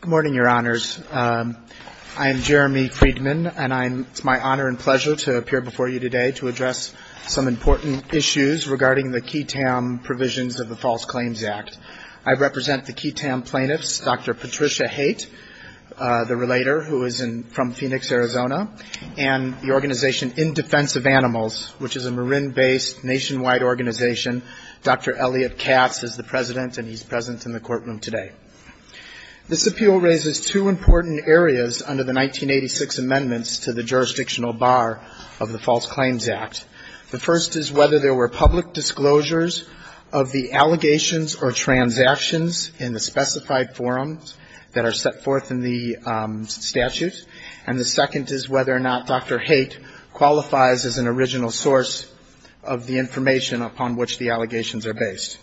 Good morning, Your Honors. I am Jeremy Friedman, and it's my honor and pleasure to appear before you today to address some important issues regarding the QTAM provisions of the False Claims Act. I represent the QTAM plaintiffs, Dr. Patricia Haight, the relator, who is from Phoenix, Arizona, and the organization In Defense of Animals, which is a Marin-based nationwide organization. Dr. Elliot Katz is the president, and he's present in the courtroom today. This appeal raises two important areas under the 1986 amendments to the jurisdictional bar of the False Claims Act. The first is whether there were public disclosures of the allegations or transactions in the specified forums that are set forth in the statute, and the second is whether or not Dr. Haight qualifies as an original source of the information upon which the allegations are based.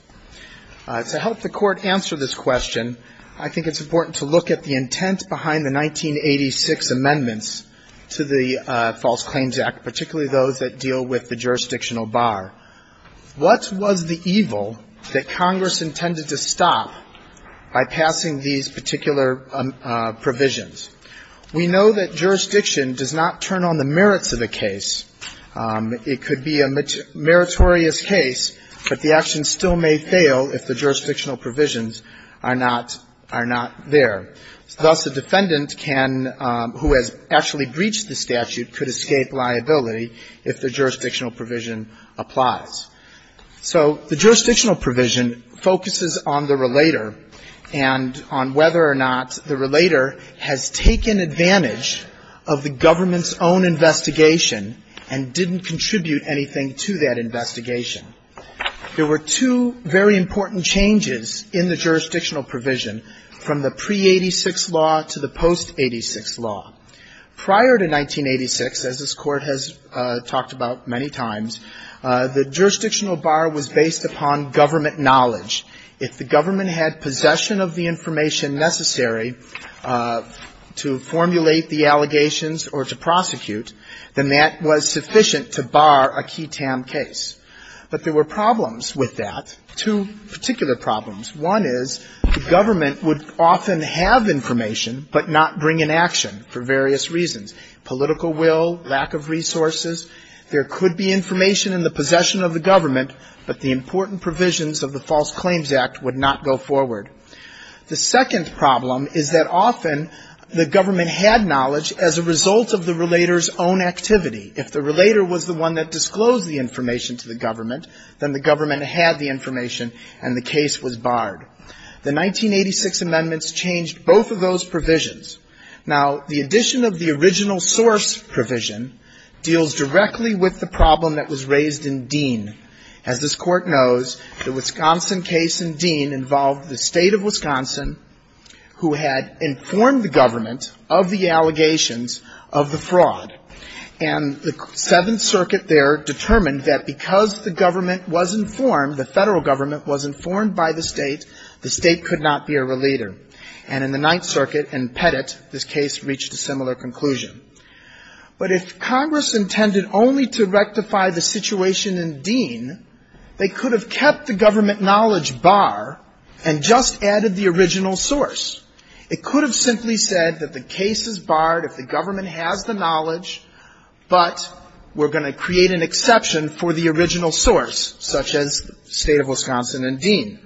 To help the Court answer this question, I think it's important to look at the intent behind the 1986 amendments to the False Claims Act, particularly those that deal with the jurisdictional bar. What was the evil that Congress intended to stop by passing these particular provisions? We know that jurisdiction does not turn on the merits of a case. It could be a meritorious case, but the action still may fail if the jurisdictional provisions are not there. Thus, a defendant can, who has actually breached the statute, could escape liability if the jurisdictional provision applies. So the jurisdictional provision focuses on the relator and on whether or not the relator has taken advantage of the government's own investigation and didn't contribute anything to that investigation. There were two very important changes in the jurisdictional provision from the pre-'86 law to the post-'86 law. Prior to 1986, as this Court has talked about many times, the jurisdictional bar was based upon government knowledge. If the government had possession of the information necessary to formulate the allegations or to prosecute, then that was sufficient to bar a key TAM case. But there were problems with that, two particular problems. One is the government would often have information, but not bring an action for various reasons, political will, lack of resources. There could be information in the possession of the government, but the important provisions of the False Claims Act would not go forward. The second problem is that often the government had knowledge as a result of the relator's own activity. If the relator was the one that disclosed the information to the government, then the government had the information and the case was barred. The 1986 amendments changed both of those provisions. Now the addition of the original source provision deals directly with the problem that was raised in Dean. As this Court knows, the Wisconsin case in Dean involved the state of Wisconsin who had informed the government of the allegations of the fraud. And the Seventh Circuit there determined that because the government was informed, the federal government was informed by the state, the state could not be a relator. And in the Ninth Circuit in Pettit, this case reached a similar conclusion. But if Congress intended only to rectify the situation in Dean, they could have kept the government knowledge bar and just added the original source. It could have simply said that the case is barred if the government has the knowledge, but we're going to create an exception for the original source, such as the state of Wisconsin and Dean.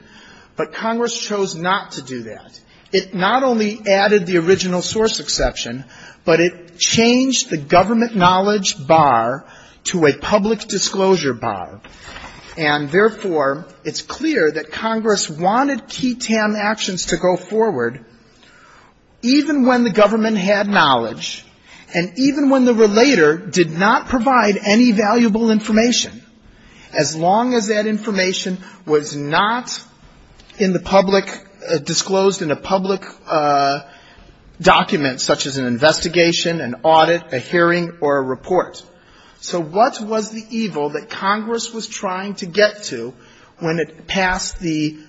But Congress chose not to do that. It not only added the original source exception, but it changed the government knowledge bar to a public disclosure bar. And therefore, it's clear that Congress wanted key TAM actions to go forward even when the government had knowledge and even when the relator did not provide any valuable information, as long as that information was not in the public, disclosed in a public document such as an investigation, an audit, a hearing, or a report. So what was the evil that Congress was trying to get to when it passed the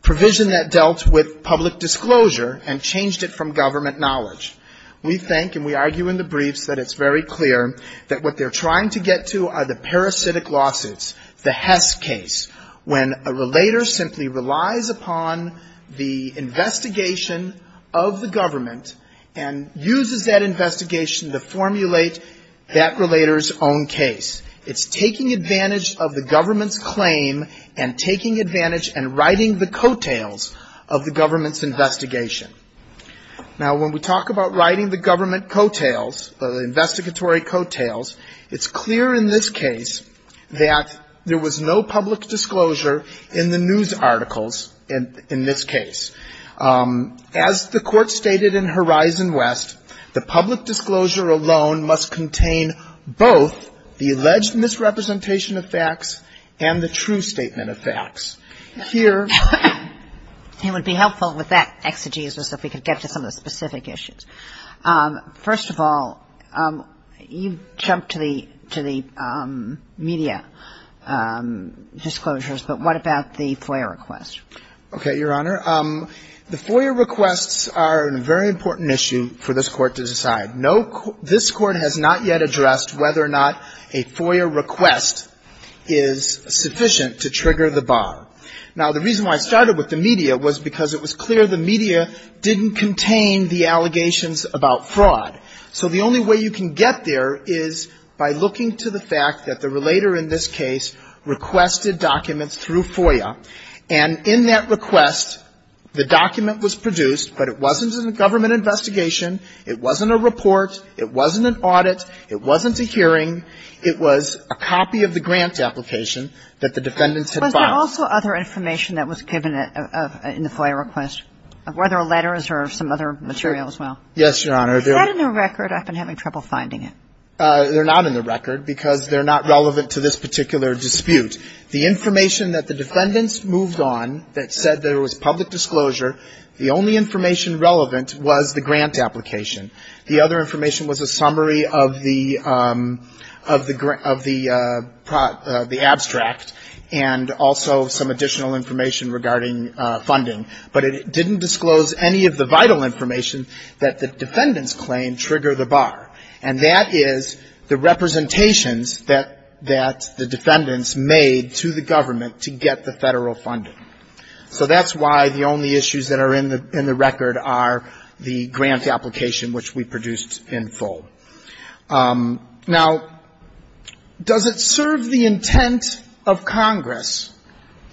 provision that dealt with public disclosure and changed it from government knowledge? We think, and we argue in the briefs, that it's very clear that what they're trying to get to are the when a relator simply relies upon the investigation of the government and uses that investigation to formulate that relator's own case. It's taking advantage of the government's claim and taking advantage and writing the coattails of the government's investigation. Now when we talk about writing the government coattails, the investigatory coattails, it's clear in this case that there was no public disclosure in the news articles in this case. As the Court stated in Horizon West, the public disclosure alone must contain both the alleged misrepresentation of facts and the true statement of facts. Here — It would be helpful with that exegesis if we could get to some of the specific issues. First of all, you jumped to the media disclosures, but what about the FOIA request? Okay, Your Honor. The FOIA requests are a very important issue for this Court to decide. This Court has not yet addressed whether or not a FOIA request is sufficient to trigger the bar. Now the reason why I started with the media was because it was clear the media didn't contain the allegations about fraud. So the only way you can get there is by looking to the fact that the relator in this case requested documents through FOIA, and in that request, the document was produced, but it wasn't a government investigation. It wasn't a report. It wasn't an audit. It wasn't a hearing. It was a copy of the grant application that the defendants had filed. Was there also other information that was given in the FOIA request? Were there letters or some other material as well? Yes, Your Honor. Is that in the record? I've been having trouble finding it. They're not in the record because they're not relevant to this particular dispute. The information that the defendants moved on that said there was public disclosure, the only information relevant was the grant application. The other information was a summary of the abstract and also some additional information regarding funding, but it didn't disclose any of the vital information that the defendants claimed triggered the bar, and that is the representations that the defendants made to the government to get the federal funding. So that's why the only issues that are in the record are the grant application, which we produced in full. Now, does it serve the intent of Congress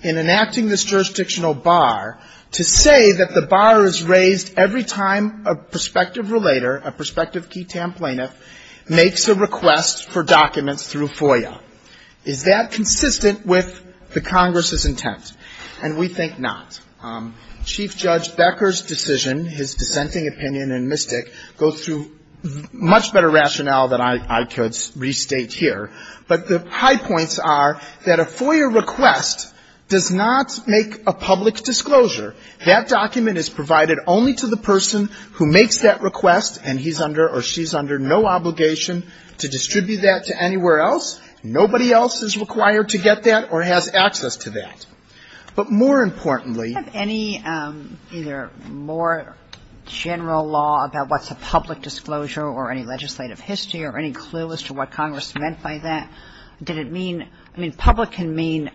in enacting this jurisdictional bar to say that the bar is raised every time a prospective relator, a prospective key TAM plaintiff, makes a request for documents through FOIA? Is that consistent with the Congress's intent? And we think not. Chief Judge Becker's decision, his dissenting opinion in MISTIC, goes through much better rationale than I could restate here, but the high points are that a FOIA request does not make a public disclosure. That document is provided only to the person who makes that request, and he's under or she's under no obligation to distribute that to anywhere else. Nobody else is required to get that or has access to that. But more importantly — Do you have any either more general law about what's a public disclosure or any legislative history or any clue as to what Congress meant by that? Did it mean — I mean, public can mean,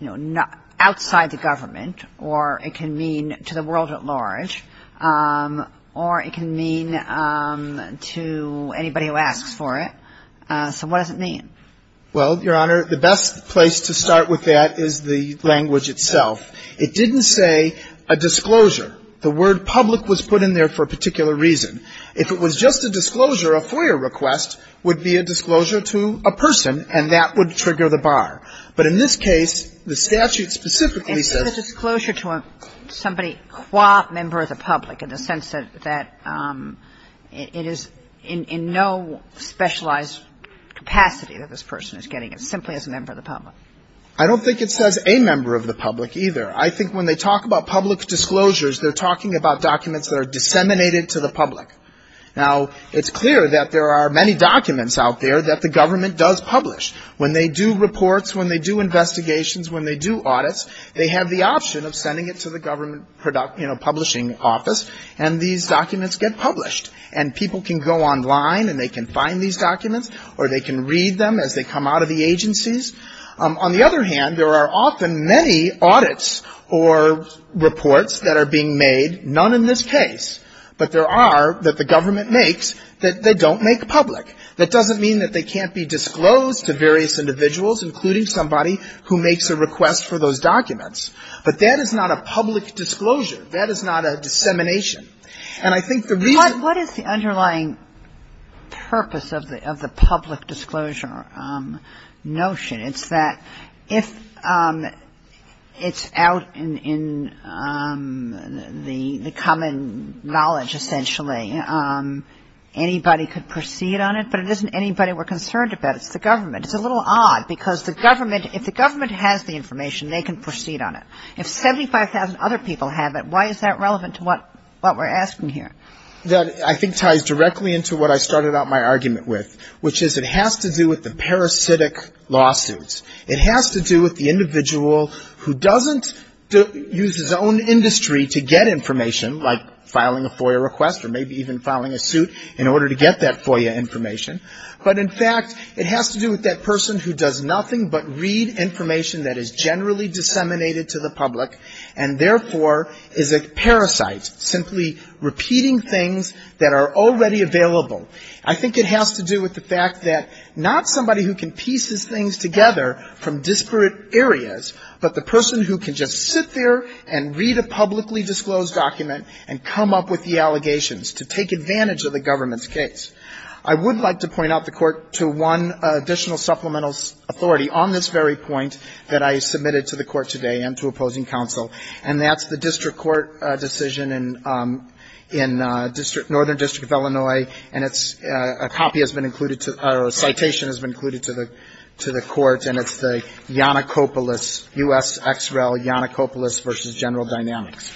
you know, outside the government, or it can mean to the world at large, or it can mean to anybody who asks for it. So what does it mean? Well, Your Honor, the best place to start with that is the language itself. It didn't say a disclosure. The word public was put in there for a particular reason. If it was just a disclosure, a FOIA request would be a disclosure to a person, and that would trigger the bar. But in this case, the statute specifically says — It's a disclosure to somebody qua member of the public, in the sense that it is in no specialized capacity that this person is getting it, simply as a member of the public. I don't think it says a member of the public either. I think when they talk about public disclosures, they're talking about documents that are disseminated to the public. Now, it's clear that there are many documents out there that the government does publish. When they do reports, when they do investigations, when they do audits, they have the option of sending it to the government, you know, publishing office, and these documents get published. And people can go online, and they can find these documents, or they can read them as they come out of the agencies. On the other hand, there are often many audits or reports that are being made, none in this case. But there are, that the government makes, that they don't make public. That doesn't mean that they can't be disclosed to various individuals, including somebody who makes a request for those documents. But that is not a public disclosure. That is not a dissemination. And I think the reason — What is the underlying purpose of the public disclosure notion? It's that if it's out in the common knowledge, essentially, anybody could proceed on it, but it isn't anybody we're concerned about. It's the government. It's a little odd because the government, if the government has the information, they can proceed on it. If 75,000 other people have it, why is that relevant to what we're talking about, what we're asking here? That, I think, ties directly into what I started out my argument with, which is it has to do with the parasitic lawsuits. It has to do with the individual who doesn't use his own industry to get information, like filing a FOIA request or maybe even filing a suit in order to get that FOIA information. But, in fact, it has to do with that person who does nothing but read information that is generally disseminated to the public and, therefore, is a parasite, simply repeating things that are already available. I think it has to do with the fact that not somebody who can piece his things together from disparate areas, but the person who can just sit there and read a publicly disclosed document and come up with the allegations to take advantage of the government's case. I would like to point out the Court to one additional supplemental authority on this very point that I submitted to the Court today and to opposing counsel, and that's the district court decision in Northern District of Illinois, and a copy has been included, or a citation has been included to the Court, and it's the Yanacopoulos, U.S. X. Rel. Yanacopoulos v. General Dynamics.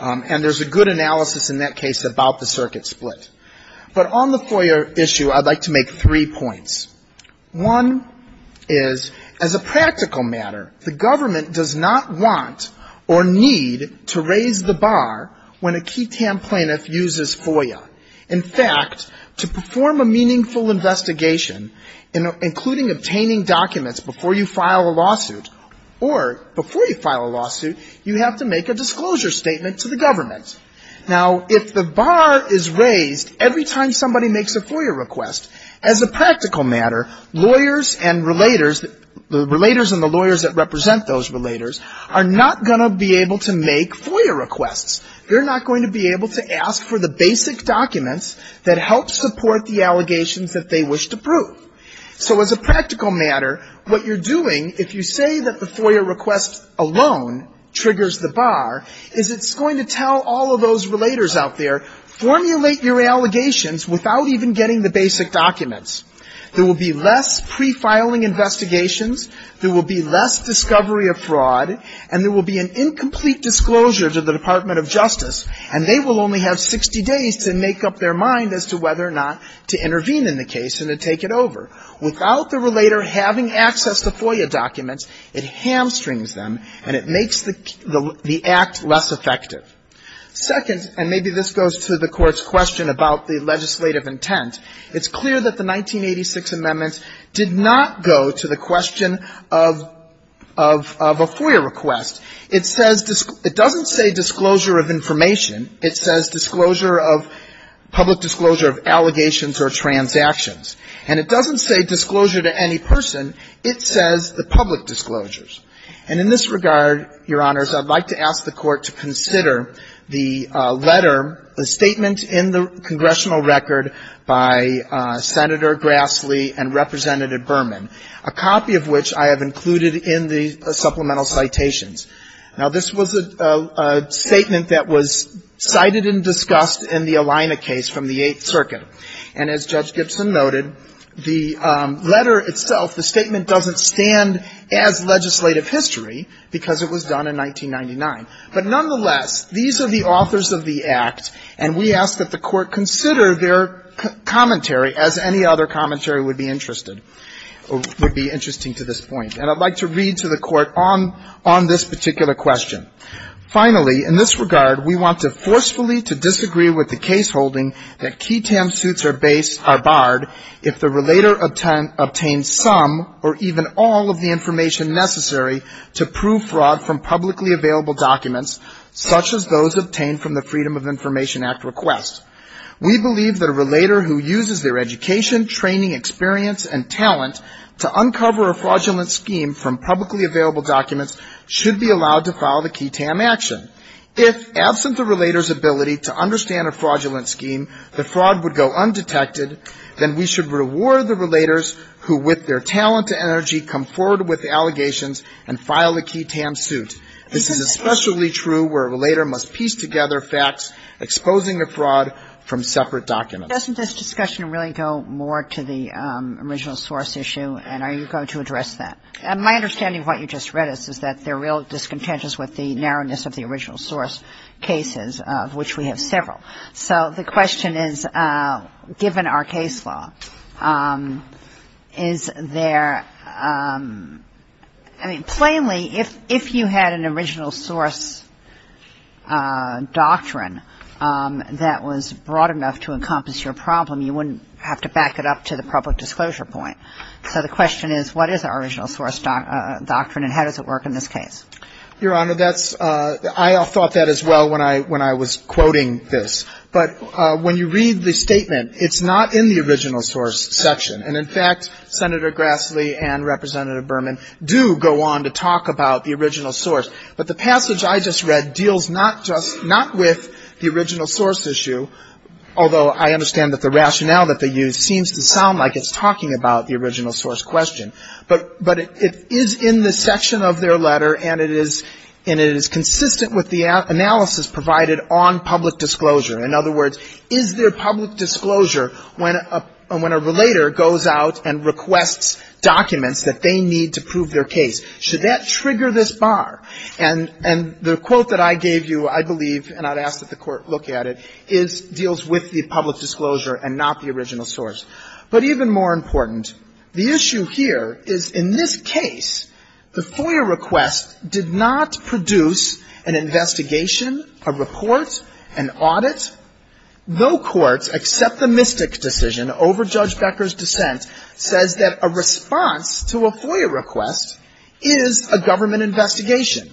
And there's a good analysis in that case about the circuit split. But on the FOIA issue, I'd like to make three points. One is as a practical matter, the government does not want or need to raise the bar when a key TAM plaintiff uses FOIA. In fact, to perform a meaningful investigation, including obtaining documents before you file a lawsuit, or before you file a lawsuit, you have to make a disclosure statement to the government. Now, if the bar is raised every time somebody makes a FOIA request, as a practical matter, lawyers and relators, the relators and the lawyers that represent those relators, are not going to be able to make FOIA requests. They're not going to be able to ask for the basic documents that help support the allegations that they wish to prove. So as a practical matter, what you're doing, if you say that the FOIA request alone triggers the bar, is it's going to tell all of those relators out there, formulate your allegations without even getting the basic documents. There will be less pre-filing investigations. There will be less discovery of fraud. And there will be an incomplete disclosure to the Department of Justice. And they will only have 60 days to make up their mind as to whether or not to intervene in the case and to take it over. Without the relator having access to FOIA documents, it hamstrings them and it makes the act less effective. Second, and maybe this goes to the Court's question about the legislative intent, it's clear that the 1986 amendments did not go to the question of a FOIA request. It says, it doesn't say disclosure of information. It says disclosure of, public disclosure of allegations or transactions. And it doesn't say disclosure to any person. It says the public disclosures. And in this regard, Your Honors, I'd like to ask the Court to consider the letter, the statement in the congressional record by Senator Grassley and Representative Berman, a copy of which I have included in the supplemental citations. Now, this was a statement that was cited and discussed in the Alina case from the Eighth Circuit. And as Judge Gibson noted, the letter itself, the statement doesn't stand as legislative history because it was done in 1999. But nonetheless, these are the authors of the act, and we ask that the Court consider their commentary as any other commentary would be interested or would be interesting to this point. And I'd like to read to the Court on this particular question. Finally, in this regard, we want to forcefully to disagree with the case holding that key TAM suits are barred if the relator obtains some or even all of the information necessary to prove fraud from publicly available documents such as those obtained from the Freedom of Information Act request. We believe that a relator who uses their education, training, experience, and talent to uncover a fraudulent scheme from publicly available documents should be allowed to file the key TAM action. If, absent the relator's ability to understand a fraudulent scheme, the fraud would go undetected, then we should reward the relators who with their talent and energy come forward with allegations and file the key TAM suit. This is especially true where a relator must piece together facts exposing the fraud from separate documents. Doesn't this discussion really go more to the original source issue, and are you going to address that? My understanding of what you just read us is that they're real discontentious with the narrowness of the original source cases, of which we have several. So the question is, given our case law, is there, I mean, plainly, if you had an original source doctrine that was broad enough to encompass your problem, you wouldn't have to back it up to the public disclosure point. So the question is, what is our original source doctrine and how does it work in this case? Your Honor, that's, I thought that as well when I was quoting this. But when you read the statement, it's not in the original source section. And in fact, Senator Grassley and Representative Berman do go on to talk about the original source. But the passage I just read deals not just, not with the original source issue, although I understand that the rationale that they use seems to sound like it's talking about the original source question. But it is in the section of their letter and it is consistent with the analysis provided on public disclosure. In other words, is there public disclosure when a relator goes out and requests documents that they need to prove their case? Should that trigger this bar? And the quote that I gave you, I believe, and I'd ask that the Court look at it, deals with the public disclosure and not the original source. But even more important, the issue here is in this case, the FOIA request did not produce an investigation, a report, an audit. No courts except the Mystic decision over Judge Becker's dissent says that a response to a FOIA request is a government investigation.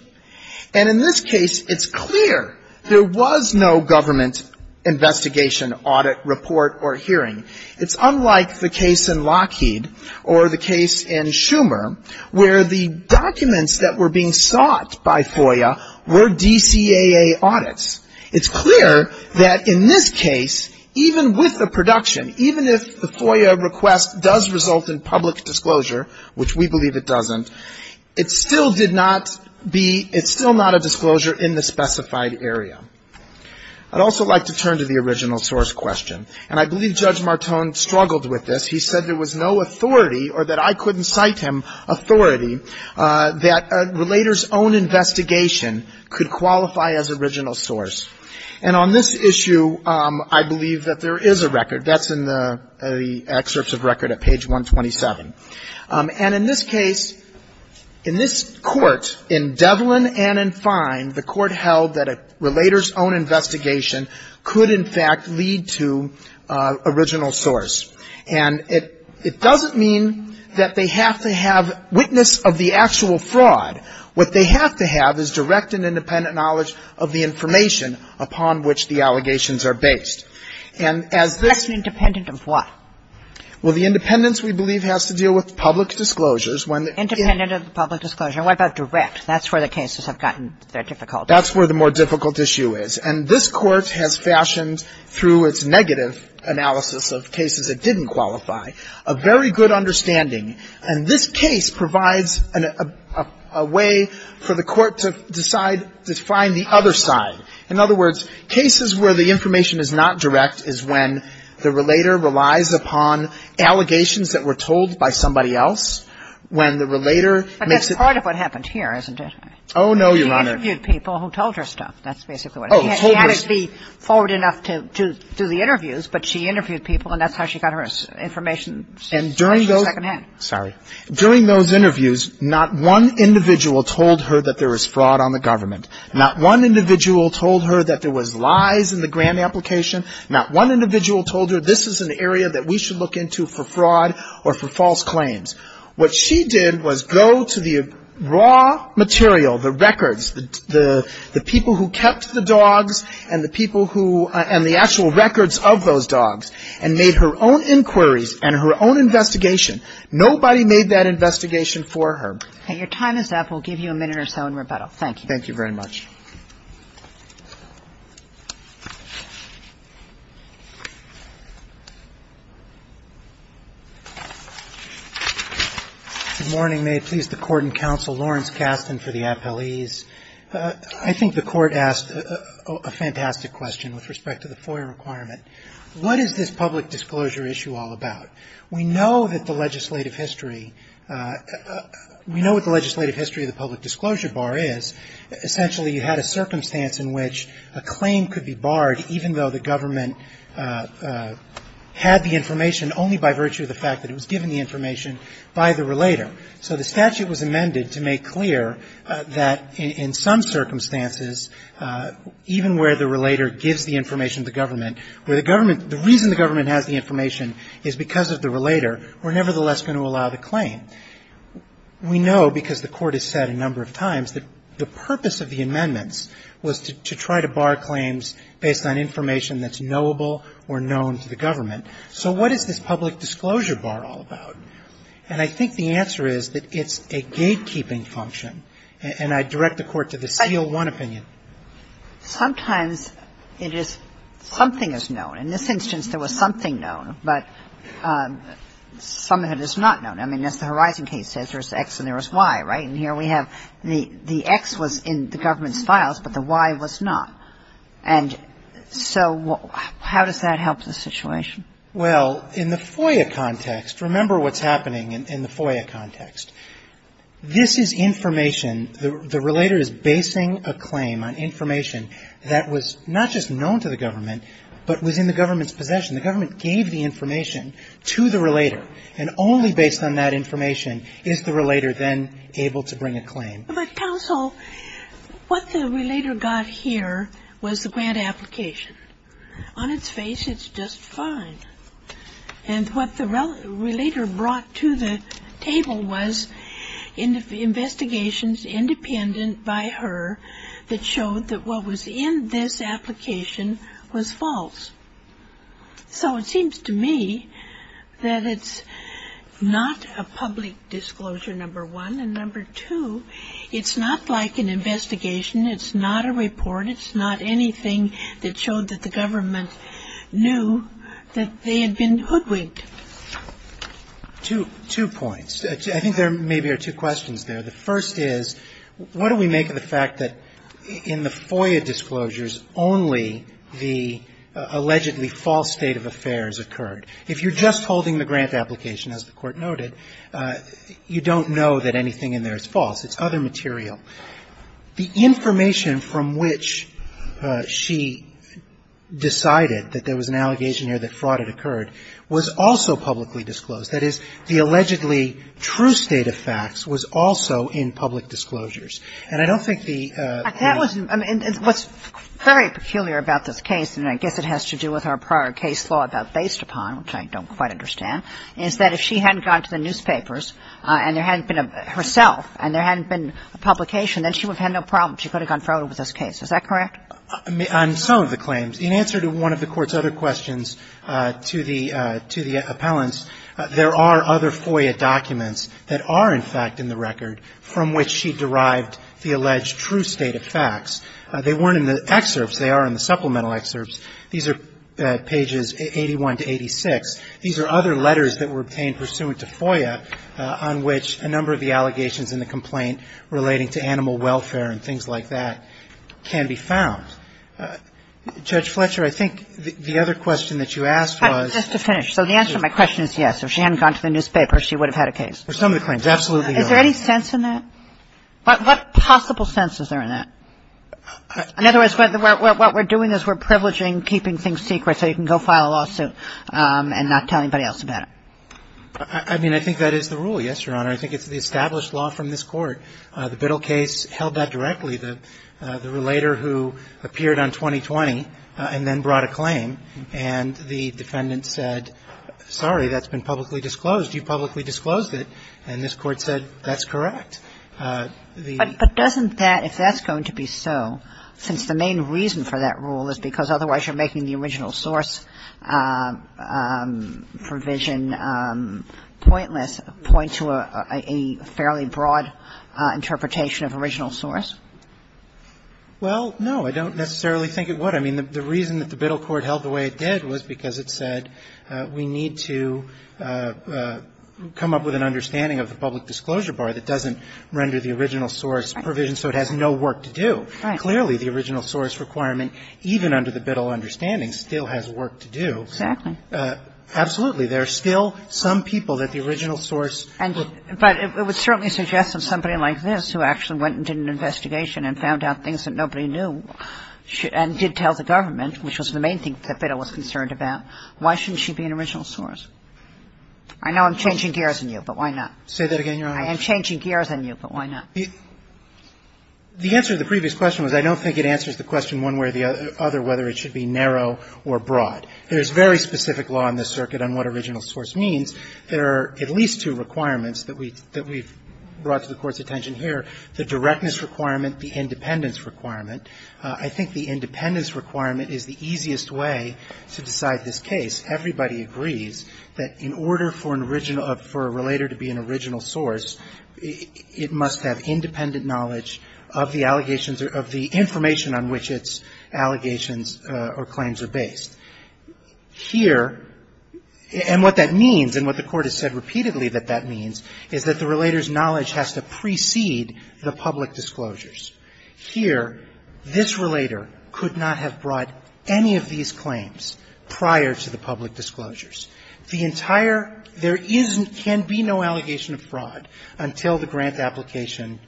And in this case, it's clear there was no government investigation, audit, report, or hearing. It's unlike the case in Lockheed or the case in Schumer where the documents that were being sought by FOIA were DCAA audits. It's clear that in this case, even with the production, even if the FOIA request does result in public disclosure, which we believe it doesn't, it still did not be, it's still not a disclosure in the specified area. I'd also like to turn to the original source question. And I believe Judge Martone struggled with this. He said there was no authority, or that I couldn't cite him authority, that a relator's own investigation could qualify as original source. And on this issue, I believe that there is a record. That's in the excerpts of record at page 127. And in this case, in this Court, in Devlin and in Fine, the Court held that a relator's own investigation could, in fact, lead to original source. And it doesn't mean that they have to have witness of the actual fraud. What they have to have is direct and independent knowledge of the information upon which the allegations are based. And as this — That's independent of what? Well, the independence, we believe, has to deal with public disclosures. Independent of the public disclosures. And what about direct? That's where the cases have gotten their difficulty. That's where the more difficult issue is. And this Court has fashioned, through its negative analysis of cases that didn't qualify, a very good understanding. And this case provides a way for the Court to decide to find the other side. In other words, cases where the information is not direct is when the relator relies upon allegations that were told by somebody else, when the relator makes it — But that's part of what happened here, isn't it? Oh, no, Your Honor. She interviewed people who told her stuff. That's basically what it is. Oh, told her — She had to be forward enough to do the interviews, but she interviewed people and that's how she got her information. And during those — Especially secondhand. Sorry. During those interviews, not one individual told her that there was fraud on the government. Not one individual told her that there was lies in the grant application. Not one individual told her this is an area that we should look into for fraud or for false claims. What she did was go to the raw material, the records, the people who kept the dogs and the people who — and the actual records of those dogs and made her own inquiries and her own investigation. Nobody made that investigation for her. Okay. Your time is up. We'll give you a minute or so in rebuttal. Thank you. Thank you very much. Good morning. May it please the court and counsel, Lawrence Kasten for the appellees. I think the court asked a fantastic question with respect to the FOIA requirement. What is this public disclosure issue all about? We know that the legislative history — we know what the legislative history of the public disclosure bar is. Essentially, it's a public disclosure issue. It had a circumstance in which a claim could be barred even though the government had the information only by virtue of the fact that it was given the information by the relator. So the statute was amended to make clear that in some circumstances, even where the relator gives the information to the government, where the government — the reason the government has the information is because of the relator, we're nevertheless going to allow the claim. We know, because the court has said a number of times, that the purpose of the amendments was to try to bar claims based on information that's knowable or known to the government. So what is this public disclosure bar all about? And I think the answer is that it's a gatekeeping function. And I direct the court to the CL-1 opinion. Sometimes it is — something is known. In this instance, there was something known, but some of it is not known. I mean, as the Horizon case says, there's X and there's Y, right? And here we have — the X was in the government's files, but the Y was not. And so how does that help the situation? Well, in the FOIA context — remember what's happening in the FOIA context. This is information — the relator is basing a claim on information that was not just known to the government, but was in the government's possession. The government gave the information to the relator. And only based on that information is the relator then able to bring a claim. But, counsel, what the relator got here was the grant application. On its face, it's just fine. And what the relator brought to the table was investigations independent by her that showed that what was in this application was false. So it seems to me that it's not a public disclosure, number one. And number two, it's not like an investigation. It's not a report. It's not anything that showed that the government knew that they had been hoodwinked. Two points. I think there maybe are two questions there. The first is, what do we make of the fact that in the FOIA disclosures, only the allegedly false state of affairs occurred? If you're just holding the grant application, as the Court noted, you don't know that anything in there is false. It's other material. The information from which she decided that there was an allegation here that fraud had occurred was also publicly disclosed. That is, the allegedly true state of facts was also in public disclosures. And I don't think the ---- And what's very peculiar about this case, and I guess it has to do with her prior case law about based upon, which I don't quite understand, is that if she hadn't gone to the newspapers and there hadn't been herself and there hadn't been a publication, then she would have had no problem. She could have gone forward with this case. Is that correct? On some of the claims, in answer to one of the Court's other questions to the appellants, there are other FOIA documents that are, in fact, in the record from which she derived the alleged true state of facts. They weren't in the excerpts. They are in the supplemental excerpts. These are pages 81 to 86. These are other letters that were obtained pursuant to FOIA on which a number of the allegations in the complaint relating to animal welfare and things like that can be found. Judge Fletcher, I think the other question that you asked was ---- Just to finish. So the answer to my question is yes. If she hadn't gone to the newspaper, she would have had a case. For some of the claims, absolutely. Is there any sense in that? What possible sense is there in that? In other words, what we're doing is we're privileging keeping things secret so you can go file a lawsuit and not tell anybody else about it. I mean, I think that is the rule, yes, Your Honor. I think it's the established law from this Court. The Biddle case held that directly. The relator who appeared on 2020 and then brought a claim and the defendant said, sorry, that's been publicly disclosed. You publicly disclosed it. And this Court said that's correct. The ---- But doesn't that, if that's going to be so, since the main reason for that rule is because otherwise you're making the original source provision pointless, point to a fairly broad interpretation of original source? Well, no. I don't necessarily think it would. I mean, the reason that the Biddle Court held the way it did was because it said we need to come up with an understanding of the public disclosure bar that doesn't render the original source provision so it has no work to do. Right. Clearly, the original source requirement, even under the Biddle understanding, still has work to do. Exactly. Absolutely. There are still some people that the original source ---- But it would certainly suggest that somebody like this who actually went and did an original source, who was a member of the government, which was the main thing that Biddle was concerned about, why shouldn't she be an original source? I know I'm changing gears on you, but why not? Say that again, Your Honor. I am changing gears on you, but why not? The answer to the previous question was I don't think it answers the question one way or the other whether it should be narrow or broad. There's very specific law in this circuit on what original source means. There are at least two requirements that we've brought to the Court's attention here, the directness requirement, the independence requirement. I think the independence requirement is the easiest way to decide this case. Everybody agrees that in order for an original ---- for a relator to be an original source, it must have independent knowledge of the allegations or of the information on which its allegations or claims are based. Here, and what that means, and what the Court has said repeatedly that that means, is that the relator's knowledge has to precede the public disclosures. Here, this relator could not have brought any of these claims prior to the public disclosures. The entire ---- there can be no allegation of fraud until the grant application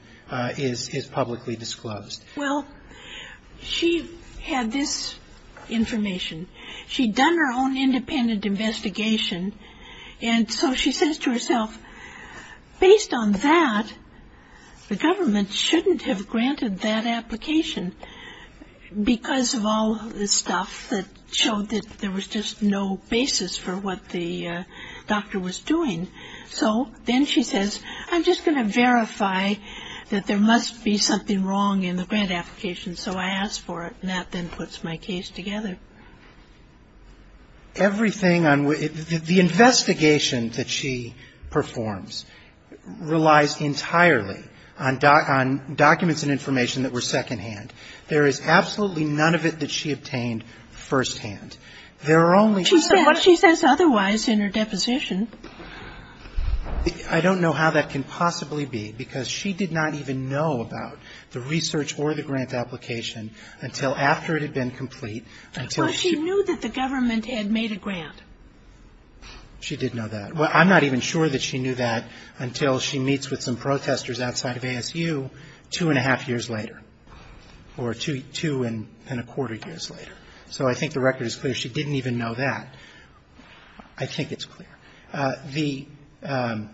is publicly disclosed. Well, she had this information. She'd done her own independent investigation, and so she says to herself, based on that, the government shouldn't have granted that application because of all the stuff that showed that there was just no basis for what the doctor was doing. So then she says, I'm just going to verify that there must be something wrong in the grant application. So I ask for it, and that then puts my case together. Everything on ---- the investigation that she performs relies entirely on documents and information that were secondhand. There is absolutely none of it that she obtained firsthand. There are only ---- She says otherwise in her deposition. I don't know how that can possibly be, because she did not even know about the research or the grant application until after it had been complete, until she ---- But she knew that the government had made a grant. She did know that. Well, I'm not even sure that she knew that until she meets with some protesters outside of ASU two and a half years later, or two and a quarter years later. So I think the record is clear. She didn't even know that. I think it's clear. The ----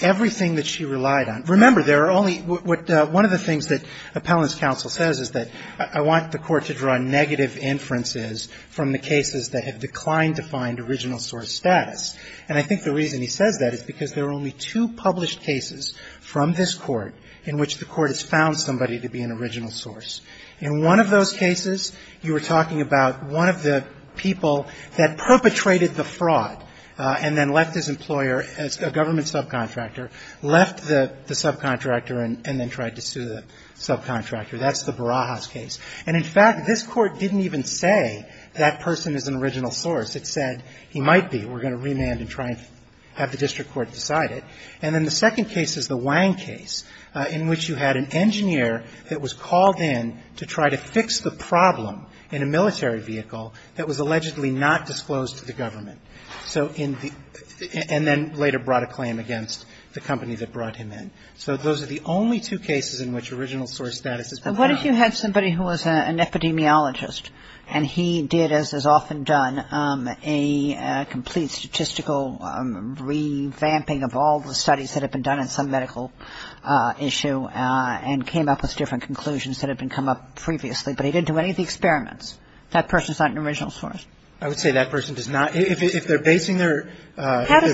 everything that she relied on. Remember, there are only ---- One of the things that Appellant's counsel says is that I want the court to draw negative inferences from the cases that have declined to find original source status. And I think the reason he says that is because there are only two published cases from this court in which the court has found somebody to be an original source. In one of those cases, you were talking about one of the people that perpetrated the fraud and then left his employer as a government subcontractor, left the subcontractor and then tried to sue the subcontractor. That's the Barajas case. And, in fact, this court didn't even say that person is an original source. It said he might be. We're going to remand and try and have the district court decide it. And then the second case is the Wang case in which you had an engineer that was called in to try to fix the problem in a military vehicle that was allegedly not disclosed to the government and then later brought a claim against the company that brought him in. So those are the only two cases in which original source status has been found. But what if you had somebody who was an epidemiologist and he did, as is often done, a complete statistical revamping of all the studies that have been done in some medical issue and came up with different conclusions that have been made. How does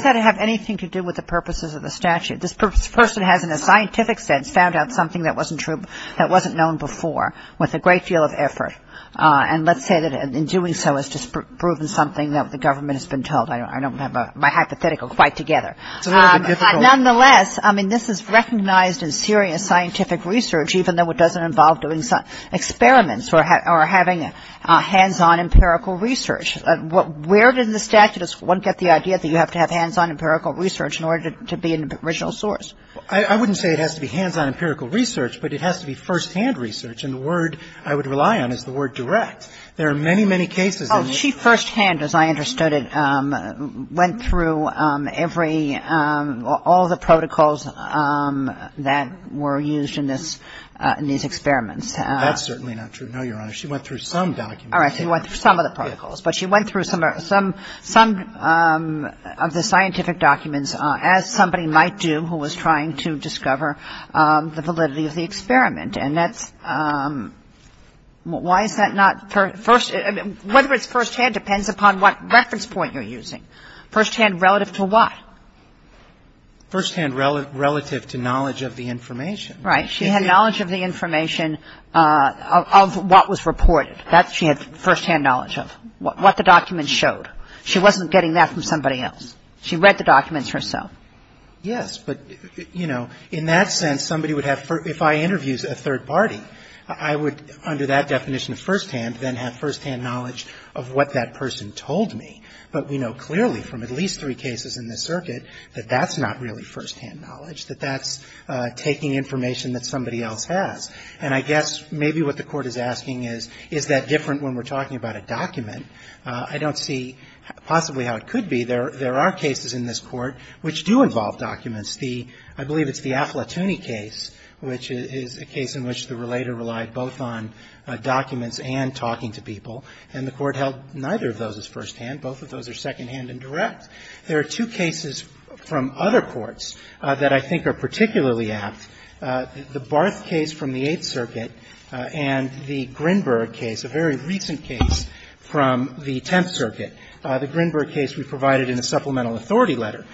that have anything to do with the purposes of the statute? This person has, in a scientific sense, found out something that wasn't true, that wasn't known before, with a great deal of effort. And let's say that in doing so has just proven something that the government has been told. I don't have my hypothetical quite together. Nonetheless, I mean, this is recognized in serious scientific research, even though it doesn't involve doing some experiments or having an empirical research. Where did the statuteist get the idea that you have to have hands-on empirical research in order to be an original source? I wouldn't say it has to be hands-on empirical research, but it has to be firsthand research. And the word I would rely on is the word direct. There are many, many cases. Oh, she firsthand, as I understood it, went through every, all the protocols that were used in this, in these experiments. That's certainly not true. No, Your Honor. She went through some documents. All right. She went through some of the protocols. But she went through some of the scientific documents, as somebody might do who was trying to discover the validity of the experiment. And that's, why is that not first, whether it's firsthand depends upon what reference point you're using. Firsthand relative to what? Firsthand relative to knowledge of the information. Right. She had knowledge of the information of what was reported. That she had firsthand knowledge of. What the documents showed. She wasn't getting that from somebody else. She read the documents herself. Yes. But, you know, in that sense, somebody would have, if I interviewed a third party, I would, under that definition of firsthand, then have firsthand knowledge of what that person told me. But we know clearly from at least three cases in this circuit that that's not really firsthand knowledge, that that's taking information that somebody else has. And I guess maybe what the court is asking is, is that different when we're talking about a document? I don't see possibly how it could be. There are cases in this court which do involve documents. The, I believe it's the Afflatuni case, which is a case in which the relator relied both on documents and talking to people. And the court held neither of those as firsthand. Both of those are secondhand and direct. There are two cases from other courts that I think are particularly apt. The Barth case from the Eighth Circuit and the Grinberg case, a very recent case from the Tenth Circuit. The Grinberg case we provided in the supplemental authority letter.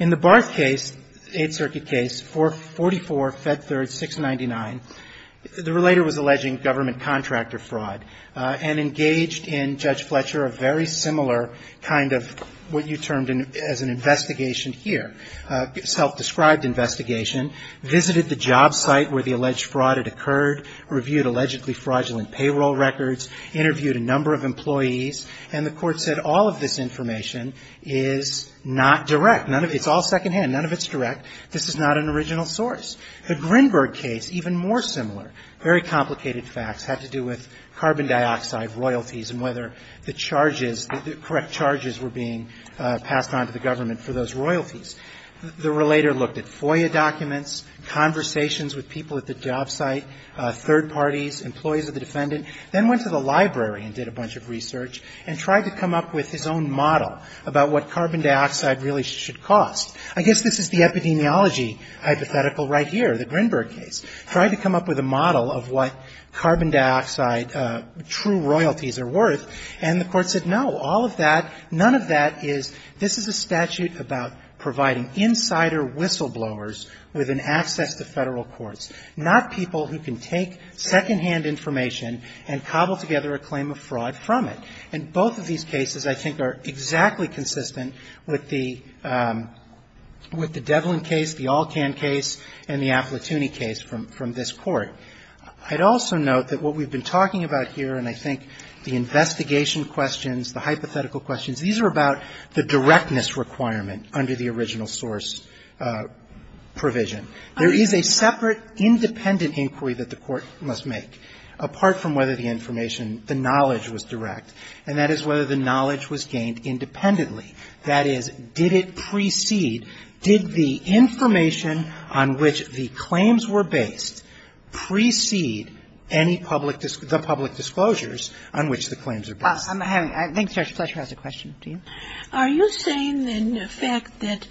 In the Barth case, Eighth Circuit case, 444, Fed Third, 699, the relator was alleging government contractor fraud and engaged in Judge Fletcher a very similar kind of what you termed as an investigation here. Self-described investigation. Visited the job site where the alleged fraud had occurred. Reviewed allegedly fraudulent payroll records. Interviewed a number of employees. And the court said all of this information is not direct. None of, it's all secondhand. None of it's direct. This is not an original source. The Grinberg case, even more similar. Very complicated facts. Had to do with carbon dioxide royalties and whether the charges, the correct charges were being passed on to the government for those royalties. The relator looked at FOIA documents, conversations with people at the job site, third parties, employees of the defendant. Then went to the library and did a bunch of research and tried to come up with his own model about what carbon dioxide really should cost. I guess this is the epidemiology hypothetical right here, the Grinberg case. Tried to come up with a model of what carbon dioxide true royalties are worth. And the court said no, all of that, none of that is, this is a statute about providing insider whistleblowers with an access to Federal courts. Not people who can take secondhand information and cobble together a claim of fraud from it. And both of these cases I think are exactly consistent with the, with the Devlin case, the Alcan case and the Appletuni case from this court. I'd also note that what we've been talking about here and I think the investigation questions, the hypothetical questions, these are about the directness requirement under the original source provision. There is a separate independent inquiry that the court must make. Apart from whether the information, the knowledge was direct. And that is whether the knowledge was gained independently. That is, did it precede, did the information on which the claims were based precede any public, the public disclosures on which the claims are based? I'm having, I think Judge Fletcher has a question. Do you? Are you saying then the fact that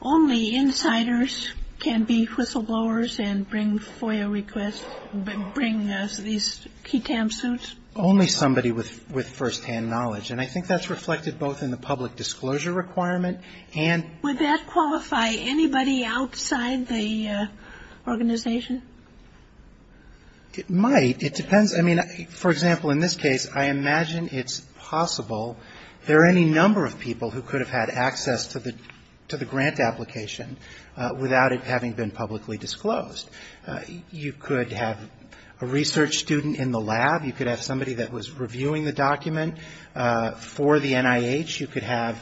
only insiders can be whistleblowers and bring FOIA requests, bring these key TAM suits? Only somebody with, with firsthand knowledge. And I think that's reflected both in the public disclosure requirement and. Would that qualify anybody outside the organization? It might. It depends. I mean, for example, in this case I imagine it's possible there are any number of people who could have had access to the, to the grant application without it having been publicly disclosed. You could have a research student in the lab. You could have somebody that was reviewing the document for the NIH. You could have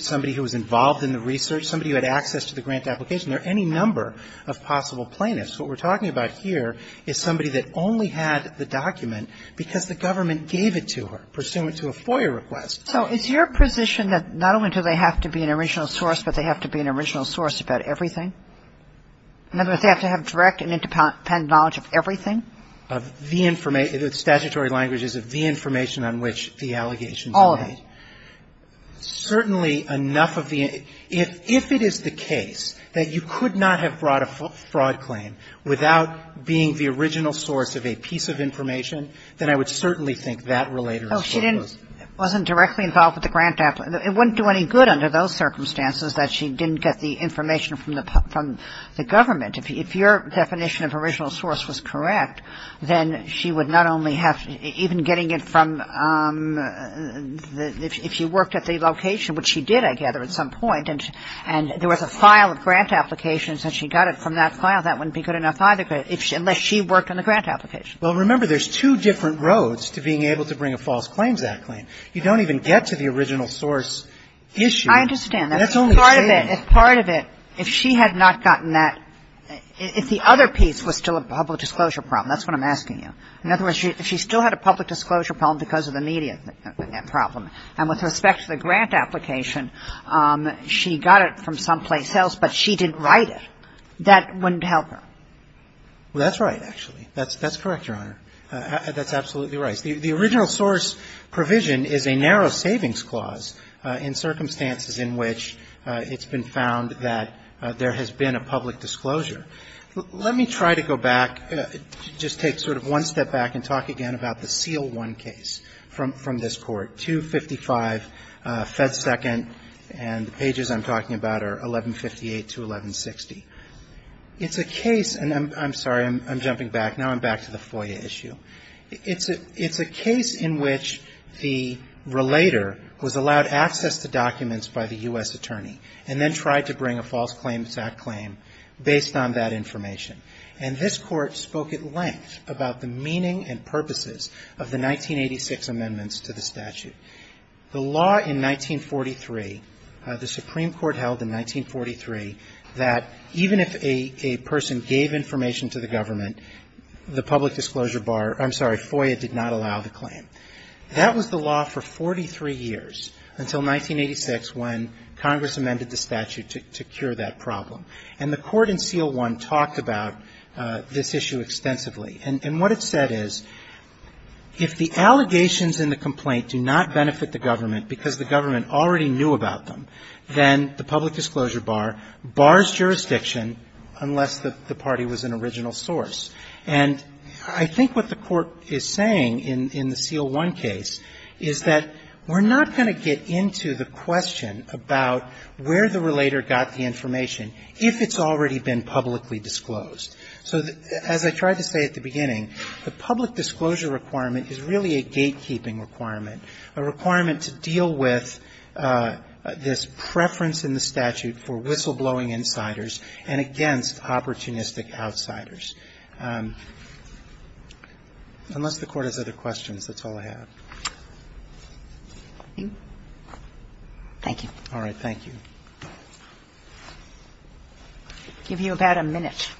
somebody who was involved in the research, somebody who had access to the grant application. There are any number of possible plaintiffs. What we're talking about here is somebody that only had the document because the government gave it to her pursuant to a FOIA request. So is your position that not only do they have to be an original source, but they have to be an original source about everything? In other words, they have to have direct and independent knowledge of everything? Of the information. The statutory language is of the information on which the allegations are made. All of it. Certainly enough of the, if it is the case that you could not have brought a fraud claim without being the original source of a piece of information, then I would certainly think that relater is foreclosed. Oh, she didn't, wasn't directly involved with the grant application. It wouldn't do any good under those circumstances that she didn't get the information from the, from the government. If your definition of original source was correct, then she would not only have, even getting it from, if she worked at the location, which she did, I gather, at some point, and there was a file of grant applications and she got it from that file, that wouldn't be good enough either, unless she worked on the grant application. Well, remember, there's two different roads to being able to bring a False Claims Act claim. You don't even get to the original source issue. I understand. That's only stating. Part of it, if part of it, if she had not gotten that, if the other piece was still a public disclosure problem, that's what I'm asking you. In other words, if she still had a public disclosure problem because of the media problem, and with respect to the grant application, she got it from someplace else, but she didn't write it, that wouldn't help her. Well, that's right, actually. That's correct, Your Honor. That's absolutely right. The original source provision is a narrow savings clause in circumstances in which it's been found that there has been a public disclosure. Let me try to go back, just take sort of one step back and talk again about the Seal I case from this Court, 255 Fed Second, and the pages I'm talking about are 1158 to 1160. It's a case, and I'm sorry, I'm jumping back. Now I'm back to the FOIA issue. It's a case in which the relator was allowed access to documents by the U.S. attorney, and then tried to bring a false claim to that claim based on that information. And this Court spoke at length about the meaning and purposes of the 1986 amendments to the statute. The law in 1943, the Supreme Court held in 1943, that even if a person gave information to the government, the public disclosure bar, I'm sorry, FOIA did not allow the claim. That was the law for 43 years until 1986 when Congress amended the statute to cure that problem. And the Court in Seal I talked about this issue extensively. And what it said is if the allegations in the complaint do not benefit the government because the government already knew about them, then the public disclosure bar bars jurisdiction unless the party was an original source. And I think what the Court is saying in the Seal I case is that we're not going to get into the question about where the relator got the information if it's already been publicly disclosed. So as I tried to say at the beginning, the public disclosure requirement is really a gatekeeping requirement, a requirement to deal with this preference in the statute for whistleblowing insiders and against opportunistic outsiders. Unless the Court has other questions, that's all I have. Thank you. All right. Thank you. I'll give you about a minute.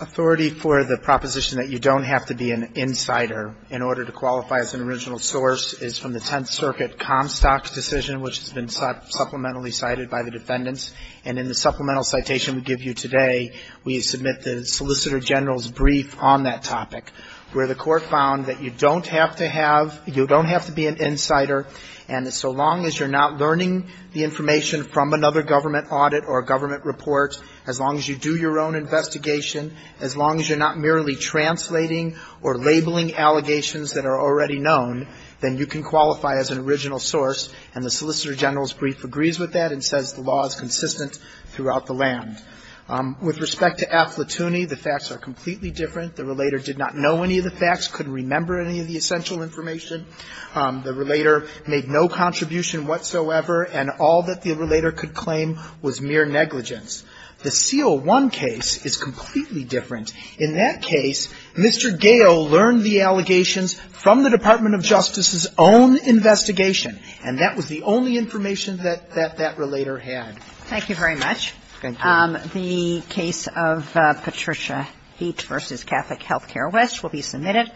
Authority for the proposition that you don't have to be an insider in order to qualify as an original source is from the Tenth Circuit Comstock decision, which has been supplementally cited by the defendants. And in the supplemental citation we give you today, we submit the Solicitor General's brief on that topic, where the Court found that you don't have to have, you don't have to be an insider. And so long as you're not learning the information from another government audit or government report, as long as you do your own investigation, as long as you're not merely translating or labeling allegations that are already known, then you can qualify as an original source. And the Solicitor General's brief agrees with that and says the law is consistent throughout the land. With respect to AFL-TUNI, the facts are completely different. The relator did not know any of the facts, couldn't remember any of the essential information. The relator made no contribution whatsoever, and all that the relator could claim was mere negligence. The C01 case is completely different. In that case, Mr. Gale learned the allegations from the Department of Justice's own investigation, and that was the only information that that relator had. Thank you very much. Thank you. The case of Patricia Height v. Catholic Health Care West will be submitted.